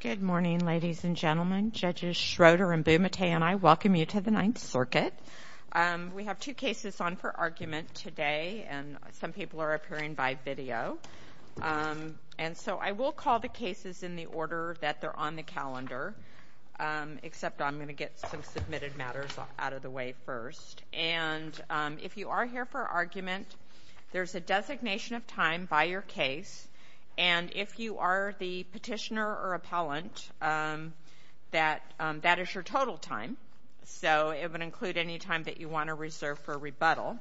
Good morning, ladies and gentlemen. Judges Schroeder and Bumate and I welcome you to the Ninth Circuit. We have two cases on for argument today, and some people are appearing by video. And so I will call the cases in the order that they're on the calendar, except I'm going to get some submitted matters out of the way first. And if you are here for argument, there's a designation of time by your case. And if you are the petitioner or appellant, that is your total time. So it would include any time that you want to reserve for rebuttal.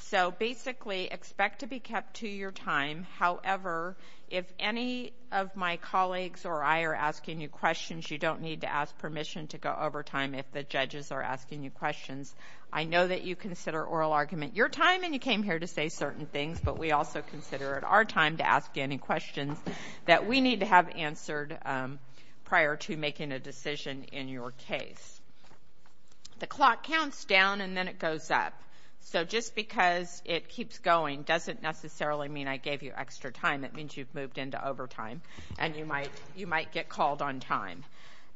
So, basically, expect to be kept to your time. However, if any of my colleagues or I are asking you questions, you don't need to ask permission to go over time if the judges are asking you questions. I know that you consider oral argument your time and you came here to say certain things, but we also consider it our time to ask you any questions that we need to have answered prior to making a decision in your case. The clock counts down and then it goes up. So just because it keeps going doesn't necessarily mean I gave you extra time. That means you've moved into overtime and you might get called on time.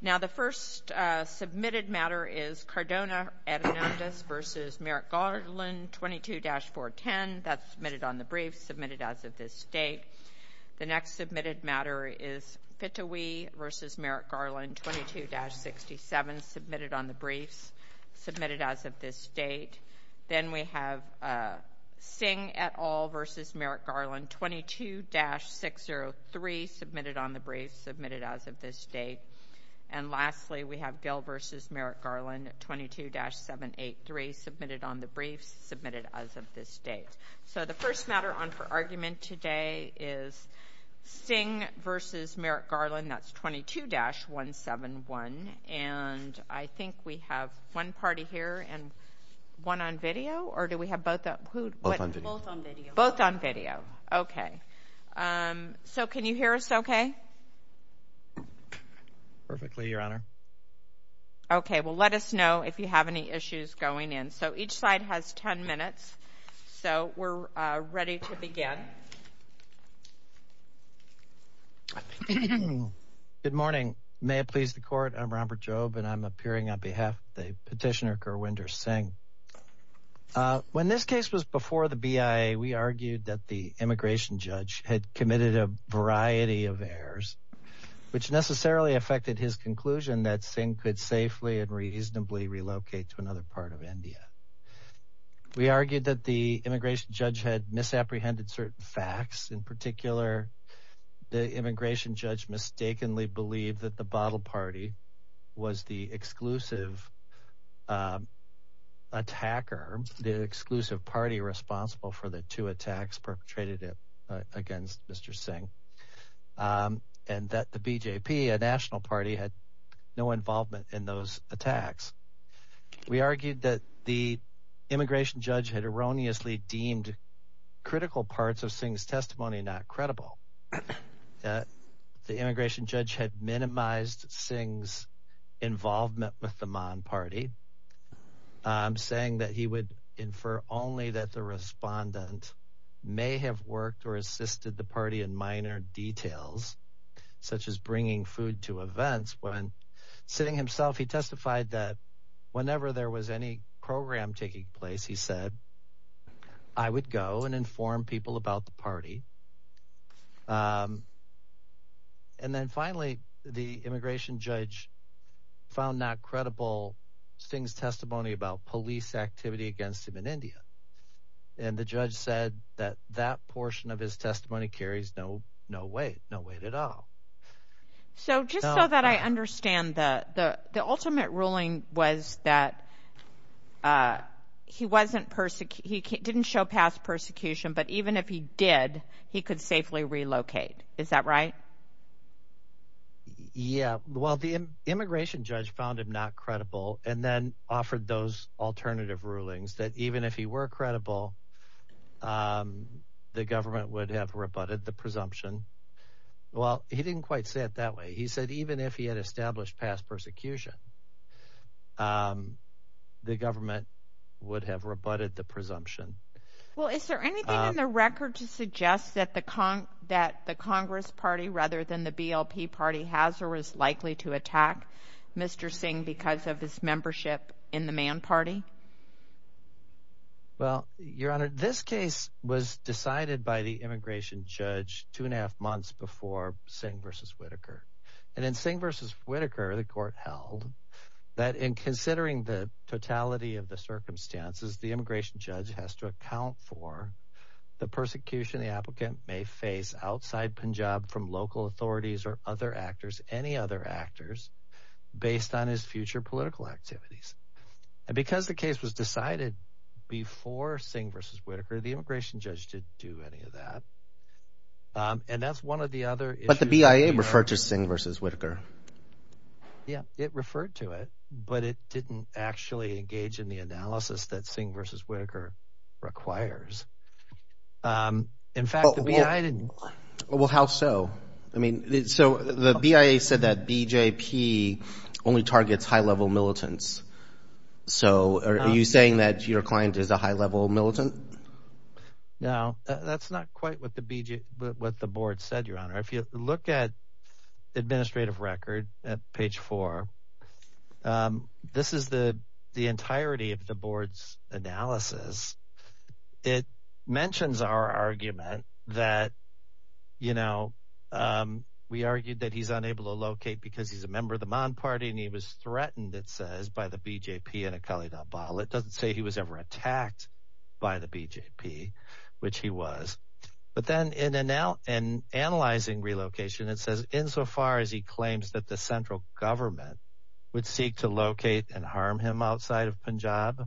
Now, the first submitted matter is Cardona Hernandez v. Merrick Garland, 22-410. That's submitted on the brief, submitted as of this date. The next submitted matter is Pitawee v. Merrick Garland, 22-67, submitted on the brief, submitted as of this date. Then we have Singh et al. v. Merrick Garland, 22-603, submitted on the brief, submitted as of this date. And lastly, we have Gill v. Merrick Garland, 22-783, submitted on the brief, submitted as of this date. So the first matter on for argument today is Singh v. Merrick Garland. That's 22-171. And I think we have one party here and one on video, or do we have both? Both on video. Both on video. Okay. So can you hear us okay? Perfectly, Your Honor. Okay. Well, let us know if you have any issues going in. So each side has 10 minutes. So we're ready to begin. Good morning. May it please the Court, I'm Robert Jobe, and I'm appearing on behalf of the petitioner, Gurwinder Singh. When this case was before the BIA, we argued that the immigration judge had committed a variety of errors, which necessarily affected his conclusion that Singh could safely and reasonably relocate to another part of India. We argued that the immigration judge had misapprehended certain facts. In particular, the immigration judge mistakenly believed that the bottle party was the exclusive attacker, the exclusive party responsible for the two attacks perpetrated against Mr. Singh, and that the BJP, a national party, had no involvement in those attacks. We argued that the immigration judge had erroneously deemed critical parts of Singh's testimony not credible, that the immigration judge had minimized Singh's involvement with the Maan party, saying that he would infer only that the respondent may have worked or assisted the party in minor details, such as bringing food to events. Sitting himself, he testified that whenever there was any program taking place, he said, I would go and inform people about the party. And then finally, the immigration judge found not credible Singh's testimony about police activity against him in India. And the judge said that that portion of his testimony carries no weight, no weight at all. So just so that I understand, the ultimate ruling was that he didn't show past persecution, but even if he did, he could safely relocate. Is that right? Yeah. Well, the immigration judge found him not credible and then offered those alternative rulings that even if he were credible, the government would have rebutted the presumption. Well, he didn't quite say it that way. He said even if he had established past persecution, the government would have rebutted the presumption. Well, is there anything in the record to suggest that the Congress party rather than the BLP party has or is likely to attack Mr. Singh because of his membership in the Maan party? Well, Your Honor, this case was decided by the immigration judge two and a half months before Singh v. Whitaker. And in Singh v. Whitaker, the court held that in considering the totality of the circumstances, the immigration judge has to account for the persecution the applicant may face outside Punjab from local authorities or other actors, any other actors based on his future political activities. And because the case was decided before Singh v. Whitaker, the immigration judge didn't do any of that. And that's one of the other issues. But the BIA referred to Singh v. Whitaker. Yeah, it referred to it, but it didn't actually engage in the analysis that Singh v. Whitaker requires. In fact, the BIA didn't. Well, how so? I mean, so the BIA said that BJP only targets high-level militants. So are you saying that your client is a high-level militant? No, that's not quite what the board said, Your Honor. If you look at the administrative record at page four, this is the entirety of the board's analysis. It mentions our argument that, you know, we argued that he's unable to locate because he's a member of the Maan Party and he was threatened, it says, by the BJP and Akali Dalbal. It doesn't say he was ever attacked by the BJP, which he was. But then in analyzing relocation, it says, insofar as he claims that the central government would seek to locate and harm him outside of Punjab,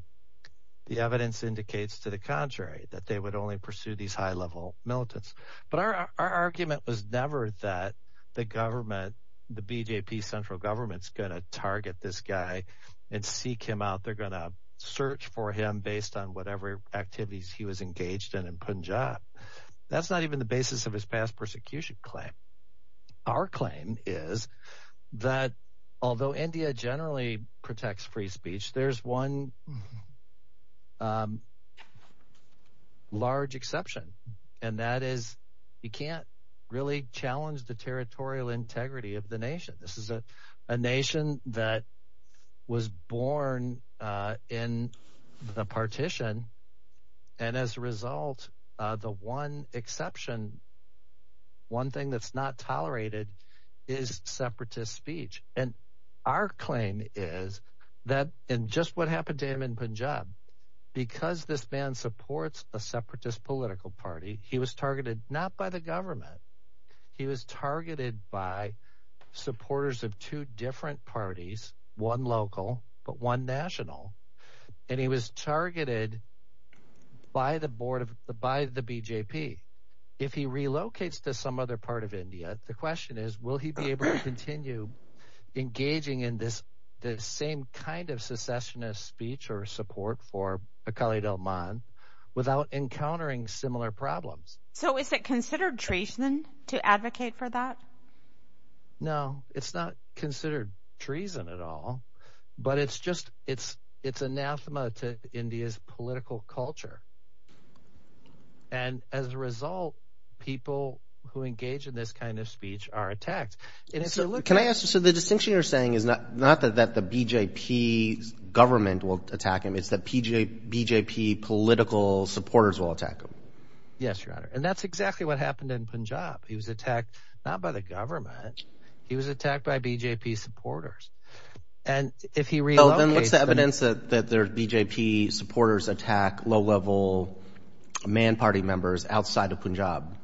the evidence indicates to the contrary, that they would only pursue these high-level militants. But our argument was never that the government, the BJP central government, is going to target this guy and seek him out. They're going to search for him based on whatever activities he was engaged in in Punjab. That's not even the basis of his past persecution claim. Our claim is that although India generally protects free speech, there's one large exception, and that is you can't really challenge the territorial integrity of the nation. This is a nation that was born in the partition, and as a result, the one exception, one thing that's not tolerated is separatist speech. And our claim is that in just what happened to him in Punjab, because this man supports a separatist political party, he was targeted not by the government. He was targeted by supporters of two different parties, one local, but one national, and he was targeted by the BJP. If he relocates to some other part of India, the question is, will he be able to continue engaging in this same kind of secessionist speech or support for Akali Dalman without encountering similar problems? So is it considered treason to advocate for that? No, it's not considered treason at all, but it's just – it's anathema to India's political culture. And as a result, people who engage in this kind of speech are attacked. Can I ask – so the distinction you're saying is not that the BJP government will attack him. It's that BJP political supporters will attack him. Yes, Your Honor, and that's exactly what happened in Punjab. He was attacked not by the government. He was attacked by BJP supporters. And if he relocates – Oh, then what's the evidence that their BJP supporters attack low-level man party members outside of Punjab?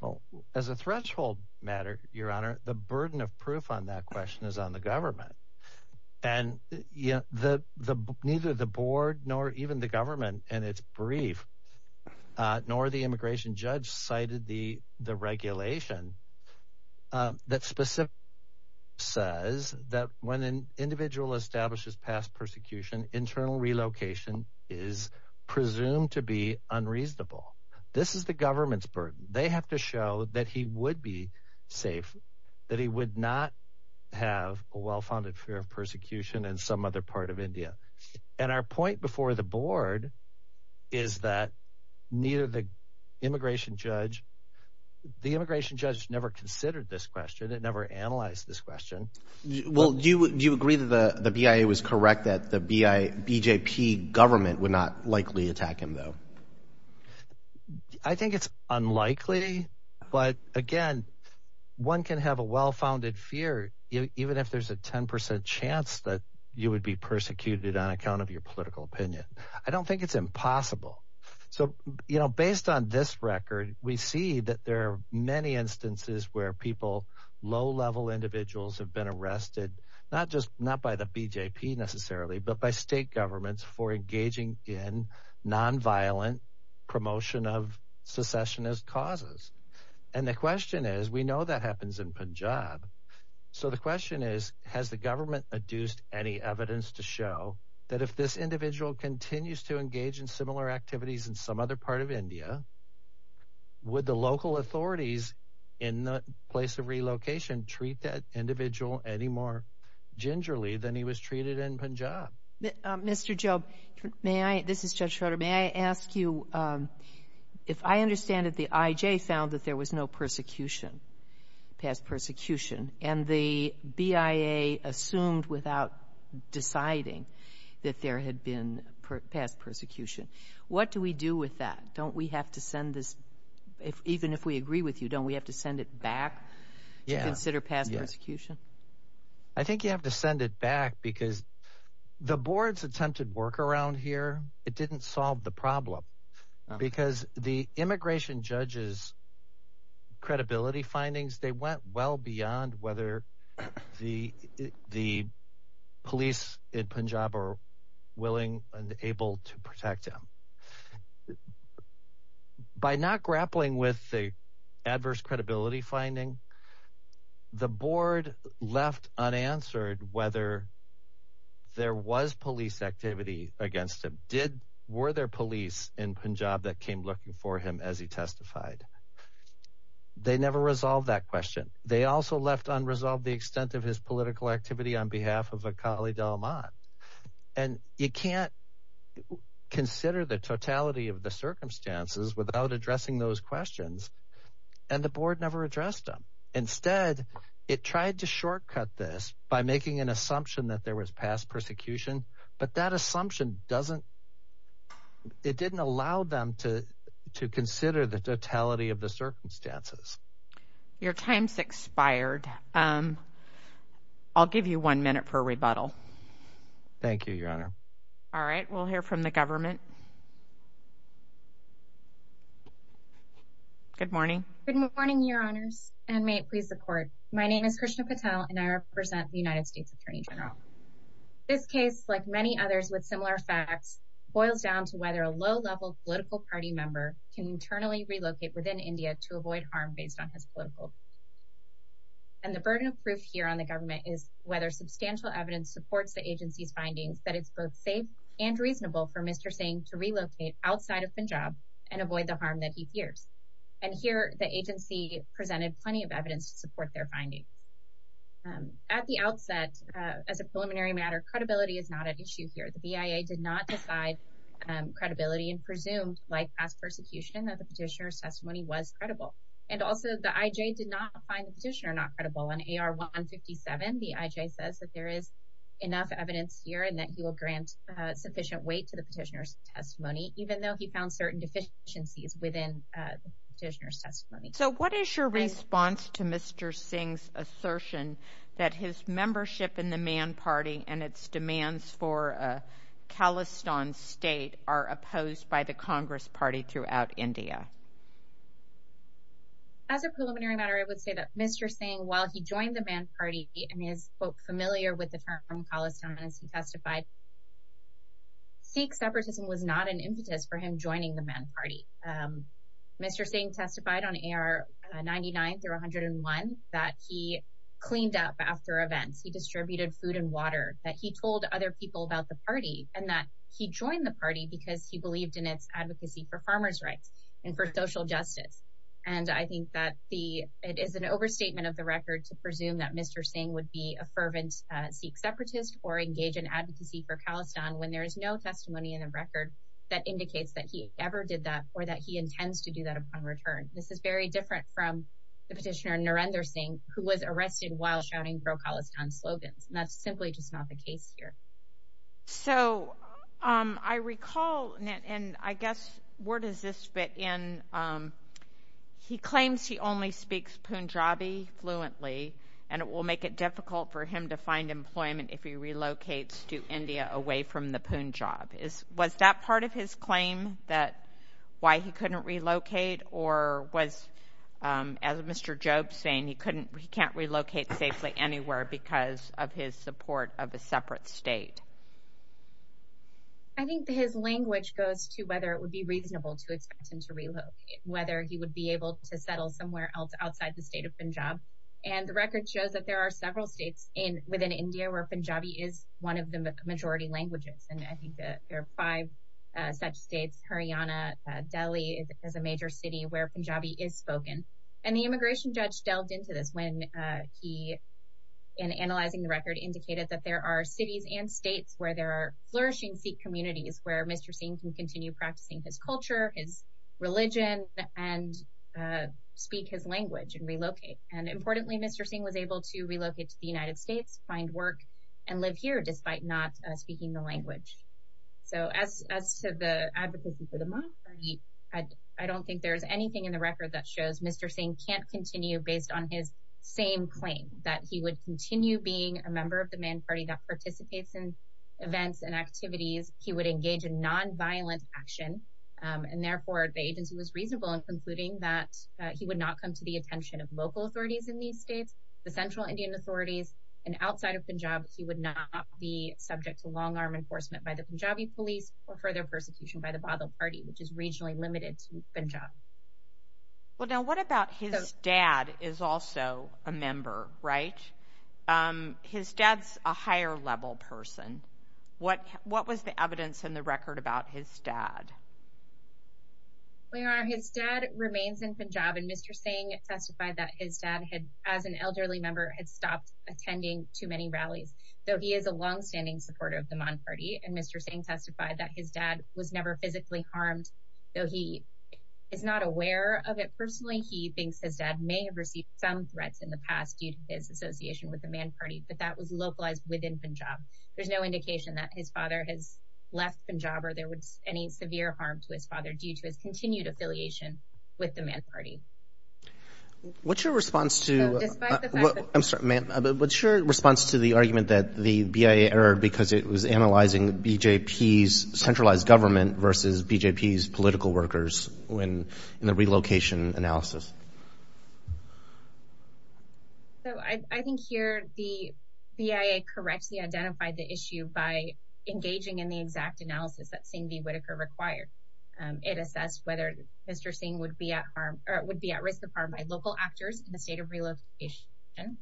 Well, as a threshold matter, Your Honor, the burden of proof on that question is on the government. And neither the board nor even the government in its brief nor the immigration judge cited the regulation that specifically says that when an individual establishes past persecution, internal relocation is presumed to be unreasonable. This is the government's burden. They have to show that he would be safe, that he would not have a well-founded fear of persecution in some other part of India. And our point before the board is that neither the immigration judge – the immigration judge never considered this question. It never analyzed this question. Well, do you agree that the BIA was correct that the BJP government would not likely attack him though? I think it's unlikely. But again, one can have a well-founded fear even if there's a 10 percent chance that you would be persecuted on account of your political opinion. I don't think it's impossible. So based on this record, we see that there are many instances where people, low-level individuals have been arrested, not by the BJP necessarily, but by state governments for engaging in nonviolent promotion of secessionist causes. And the question is – we know that happens in Punjab. So the question is, has the government adduced any evidence to show that if this individual continues to engage in similar activities in some other part of India, would the local authorities in the place of relocation treat that individual any more gingerly than he was treated in Punjab? Mr. Job, may I – this is Judge Schroeder. May I ask you if I understand that the IJ found that there was no persecution, past persecution, and the BIA assumed without deciding that there had been past persecution, what do we do with that? Don't we have to send this – even if we agree with you, don't we have to send it back to consider past persecution? I think you have to send it back because the board's attempted work around here, it didn't solve the problem. Because the immigration judge's credibility findings, they went well beyond whether the police in Punjab are willing and able to protect him. By not grappling with the adverse credibility finding, the board left unanswered whether there was police activity against him. Did – were there police in Punjab that came looking for him as he testified? They never resolved that question. They also left unresolved the extent of his political activity on behalf of a colleague of Ahmad. And you can't consider the totality of the circumstances without addressing those questions, and the board never addressed them. Instead, it tried to shortcut this by making an assumption that there was past persecution, but that assumption doesn't – it didn't allow them to consider the totality of the circumstances. Your time's expired. I'll give you one minute for a rebuttal. Thank you, Your Honor. All right, we'll hear from the government. Good morning. Good morning, Your Honors, and may it please the Court. My name is Krishna Patel, and I represent the United States Attorney General. This case, like many others with similar facts, boils down to whether a low-level political party member can internally relocate within India to avoid harm based on his political. And the burden of proof here on the government is whether substantial evidence supports the agency's findings that it's both safe and reasonable for Mr. Singh to relocate outside of Punjab and avoid the harm that he fears. And here, the agency presented plenty of evidence to support their findings. At the outset, as a preliminary matter, credibility is not at issue here. The BIA did not decide credibility and presumed, like past persecution, that the petitioner's testimony was credible. And also, the IJ did not find the petitioner not credible. On AR-157, the IJ says that there is enough evidence here and that he will grant sufficient weight to the petitioner's testimony, even though he found certain deficiencies within the petitioner's testimony. So what is your response to Mr. Singh's assertion that his membership in the Man Party and its demands for a Khalistan state are opposed by the Congress Party throughout India? As a preliminary matter, I would say that Mr. Singh, while he joined the Man Party, and he is, quote, familiar with the term Khalistan as he testified, Sikh separatism was not an impetus for him joining the Man Party. Mr. Singh testified on AR-99 through 101 that he cleaned up after events. He distributed food and water, that he told other people about the party, and that he joined the party because he believed in its advocacy for farmers' rights and for social justice. And I think that it is an overstatement of the record to presume that Mr. Singh would be a fervent Sikh separatist or engage in advocacy for Khalistan when there is no testimony in the record that indicates that he ever did that or that he intends to do that upon return. This is very different from the petitioner, Narendra Singh, who was arrested while shouting pro-Khalistan slogans. And that's simply just not the case here. So I recall, and I guess where does this fit in? He claims he only speaks Punjabi fluently, and it will make it difficult for him to find employment if he relocates to India away from the Punjab. Was that part of his claim, why he couldn't relocate? Or was, as Mr. Jobe's saying, he can't relocate safely anywhere because of his support of a separate state? I think his language goes to whether it would be reasonable to expect him to relocate, whether he would be able to settle somewhere else outside the state of Punjab. And the record shows that there are several states within India where Punjabi is one of the majority languages. And I think that there are five such states, Haryana, Delhi is a major city where Punjabi is spoken. And the immigration judge delved into this when he, in analyzing the record, indicated that there are cities and states where there are flourishing Sikh communities where Mr. Singh can continue practicing his culture, his religion, and speak his language and relocate. And importantly, Mr. Singh was able to relocate to the United States, find work, and live here despite not speaking the language. So as to the advocacy for the Man Party, I don't think there's anything in the record that shows Mr. Singh can't continue based on his same claim, that he would continue being a member of the Man Party that participates in events and activities. He would engage in non-violent action. And therefore, the agency was reasonable in concluding that he would not come to the attention of local authorities in these states, the central Indian authorities. And outside of Punjab, he would not be subject to long-arm enforcement by the Punjabi police or further persecution by the Badal Party, which is regionally limited to Punjab. Well, now, what about his dad is also a member, right? His dad's a higher-level person. What was the evidence in the record about his dad? Well, Your Honor, his dad remains in Punjab. And Mr. Singh testified that his dad, as an elderly member, had stopped attending too many rallies, though he is a longstanding supporter of the Man Party. And Mr. Singh testified that his dad was never physically harmed, though he is not aware of it personally. He thinks his dad may have received some threats in the past due to his association with the Man Party, but that was localized within Punjab. There's no indication that his father has left Punjab or there was any severe harm to his father due to his continued affiliation with the Man Party. What's your response to the argument that the BIA erred because it was analyzing BJP's centralized government versus BJP's political workers in the relocation analysis? So I think here the BIA correctly identified the issue by engaging in the exact analysis that Singh v. Whitaker required. It assessed whether Mr. Singh would be at harm or would be at risk of harm by local actors in the state of relocation,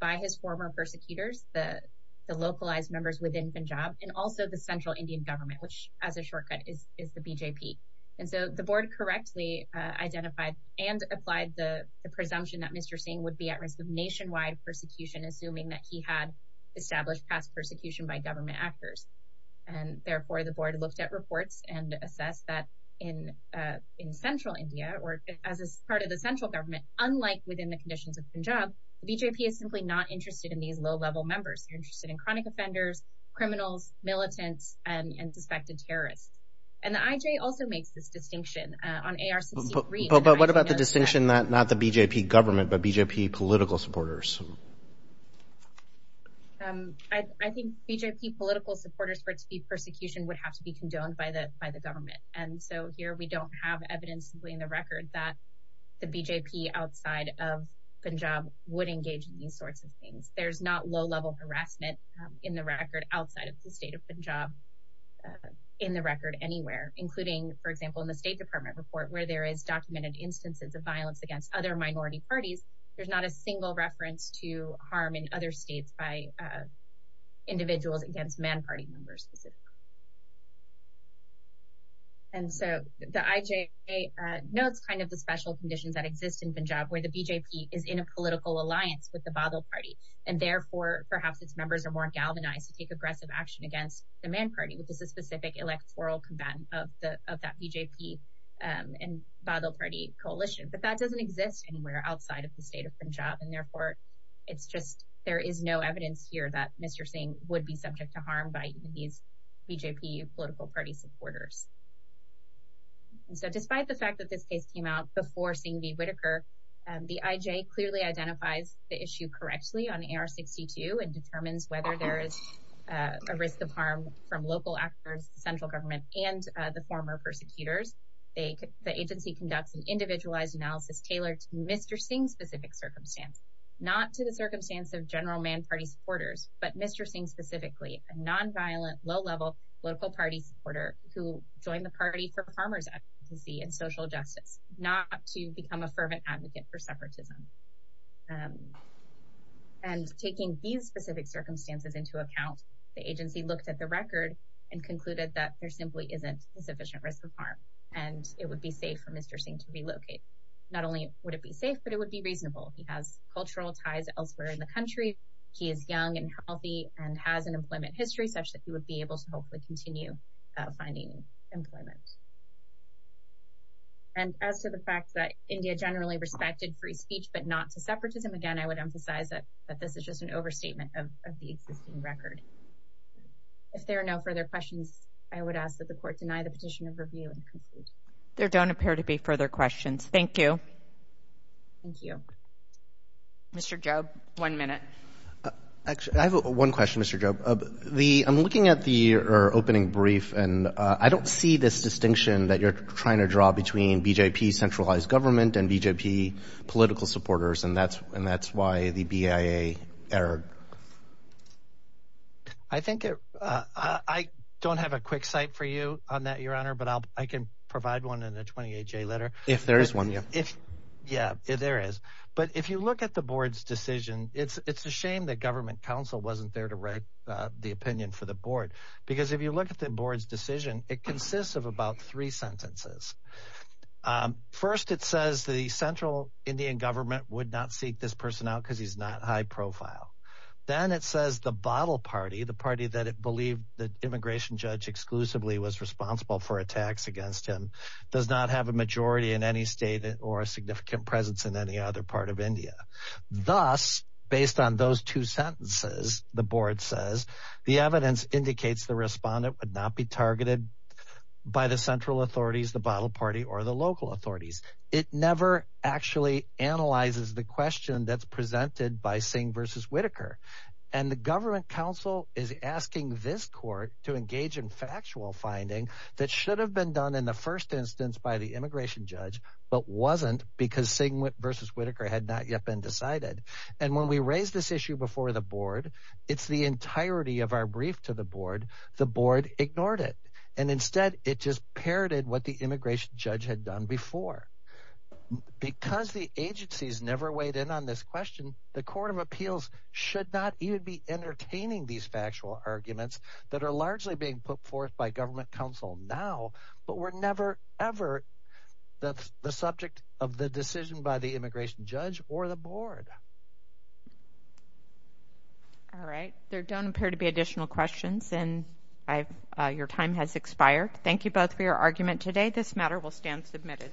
by his former persecutors, the localized members within Punjab, and also the central Indian government, which as a shortcut is the BJP. And so the board correctly identified and applied the presumption that Mr. Singh would be at risk of nationwide persecution, assuming that he had established past persecution by government actors. And therefore, the board looked at reports and assessed that in central India or as part of the central government, unlike within the conditions of Punjab, BJP is simply not interested in these low-level members. They're interested in chronic offenders, criminals, militants, and suspected terrorists. And the IJ also makes this distinction. But what about the distinction, not the BJP government, but BJP political supporters? I think BJP political supporters for persecution would have to be condoned by the government. And so here we don't have evidence in the record that the BJP outside of Punjab would engage in these sorts of things. There's not low-level harassment in the record outside of the state of Punjab in the record anywhere, including, for example, in the State Department report where there is documented instances of violence against other minority parties. There's not a single reference to harm in other states by individuals against man party members specifically. And so the IJ notes kind of the special conditions that exist in Punjab where the BJP is in a political alliance with the Badal Party. And therefore, perhaps its members are more galvanized to take aggressive action against the man party, which is a specific electoral combatant of that BJP and Badal Party coalition. But that doesn't exist anywhere outside of the state of Punjab. And therefore, it's just there is no evidence here that Mr. Singh would be subject to harm by these BJP political party supporters. And so despite the fact that this case came out before Singh v. Whitaker, the IJ clearly identifies the issue correctly on AR-62 and determines whether there is a risk of harm from local actors, central government, and the former persecutors. The agency conducts an individualized analysis tailored to Mr. Singh's specific circumstance. Not to the circumstance of general man party supporters, but Mr. Singh specifically, a nonviolent, low-level political party supporter who joined the party for farmer's advocacy and social justice, not to become a fervent advocate for separatism. And taking these specific circumstances into account, the agency looked at the record and concluded that there simply isn't a sufficient risk of harm and it would be safe for Mr. Singh to relocate. Not only would it be safe, but it would be reasonable. He has cultural ties elsewhere in the country. He is young and healthy and has an employment history such that he would be able to hopefully continue finding employment. And as to the fact that India generally respected free speech, but not to separatism, again, I would emphasize that this is just an overstatement of the existing record. If there are no further questions, I would ask that the court deny the petition of review and conclude. There don't appear to be further questions. Thank you. Thank you. Mr. Job, one minute. I have one question, Mr. Job. I'm looking at the opening brief, and I don't see this distinction that you're trying to draw between BJP centralized government and BJP political supporters, and that's why the BIA error. I don't have a quick cite for you on that, Your Honor, but I can provide one in a 28-J letter. If there is one, yeah. Yeah, there is. But if you look at the board's decision, it's a shame that government counsel wasn't there to write the opinion for the board because if you look at the board's decision, it consists of about three sentences. First, it says the central Indian government would not seek this person out because he's not high profile. Then it says the bottle party, the party that it believed the immigration judge exclusively was responsible for attacks against him, does not have a majority in any state or a significant presence in any other part of India. Thus, based on those two sentences, the board says, the evidence indicates the respondent would not be targeted by the central authorities, the bottle party, or the local authorities. It never actually analyzes the question that's presented by Singh v. Whitaker, and the government counsel is asking this court to engage in factual finding that should have been done in the first instance by the immigration judge but wasn't because Singh v. Whitaker had not yet been decided. And when we raise this issue before the board, it's the entirety of our brief to the board. The board ignored it, and instead it just parroted what the immigration judge had done before. Because the agencies never weighed in on this question, the court of appeals should not even be entertaining these factual arguments that are largely being put forth by government counsel now, but were never ever the subject of the decision by the immigration judge or the board. Alright, there don't appear to be additional questions, and your time has expired. Thank you both for your argument today. This matter will stand submitted.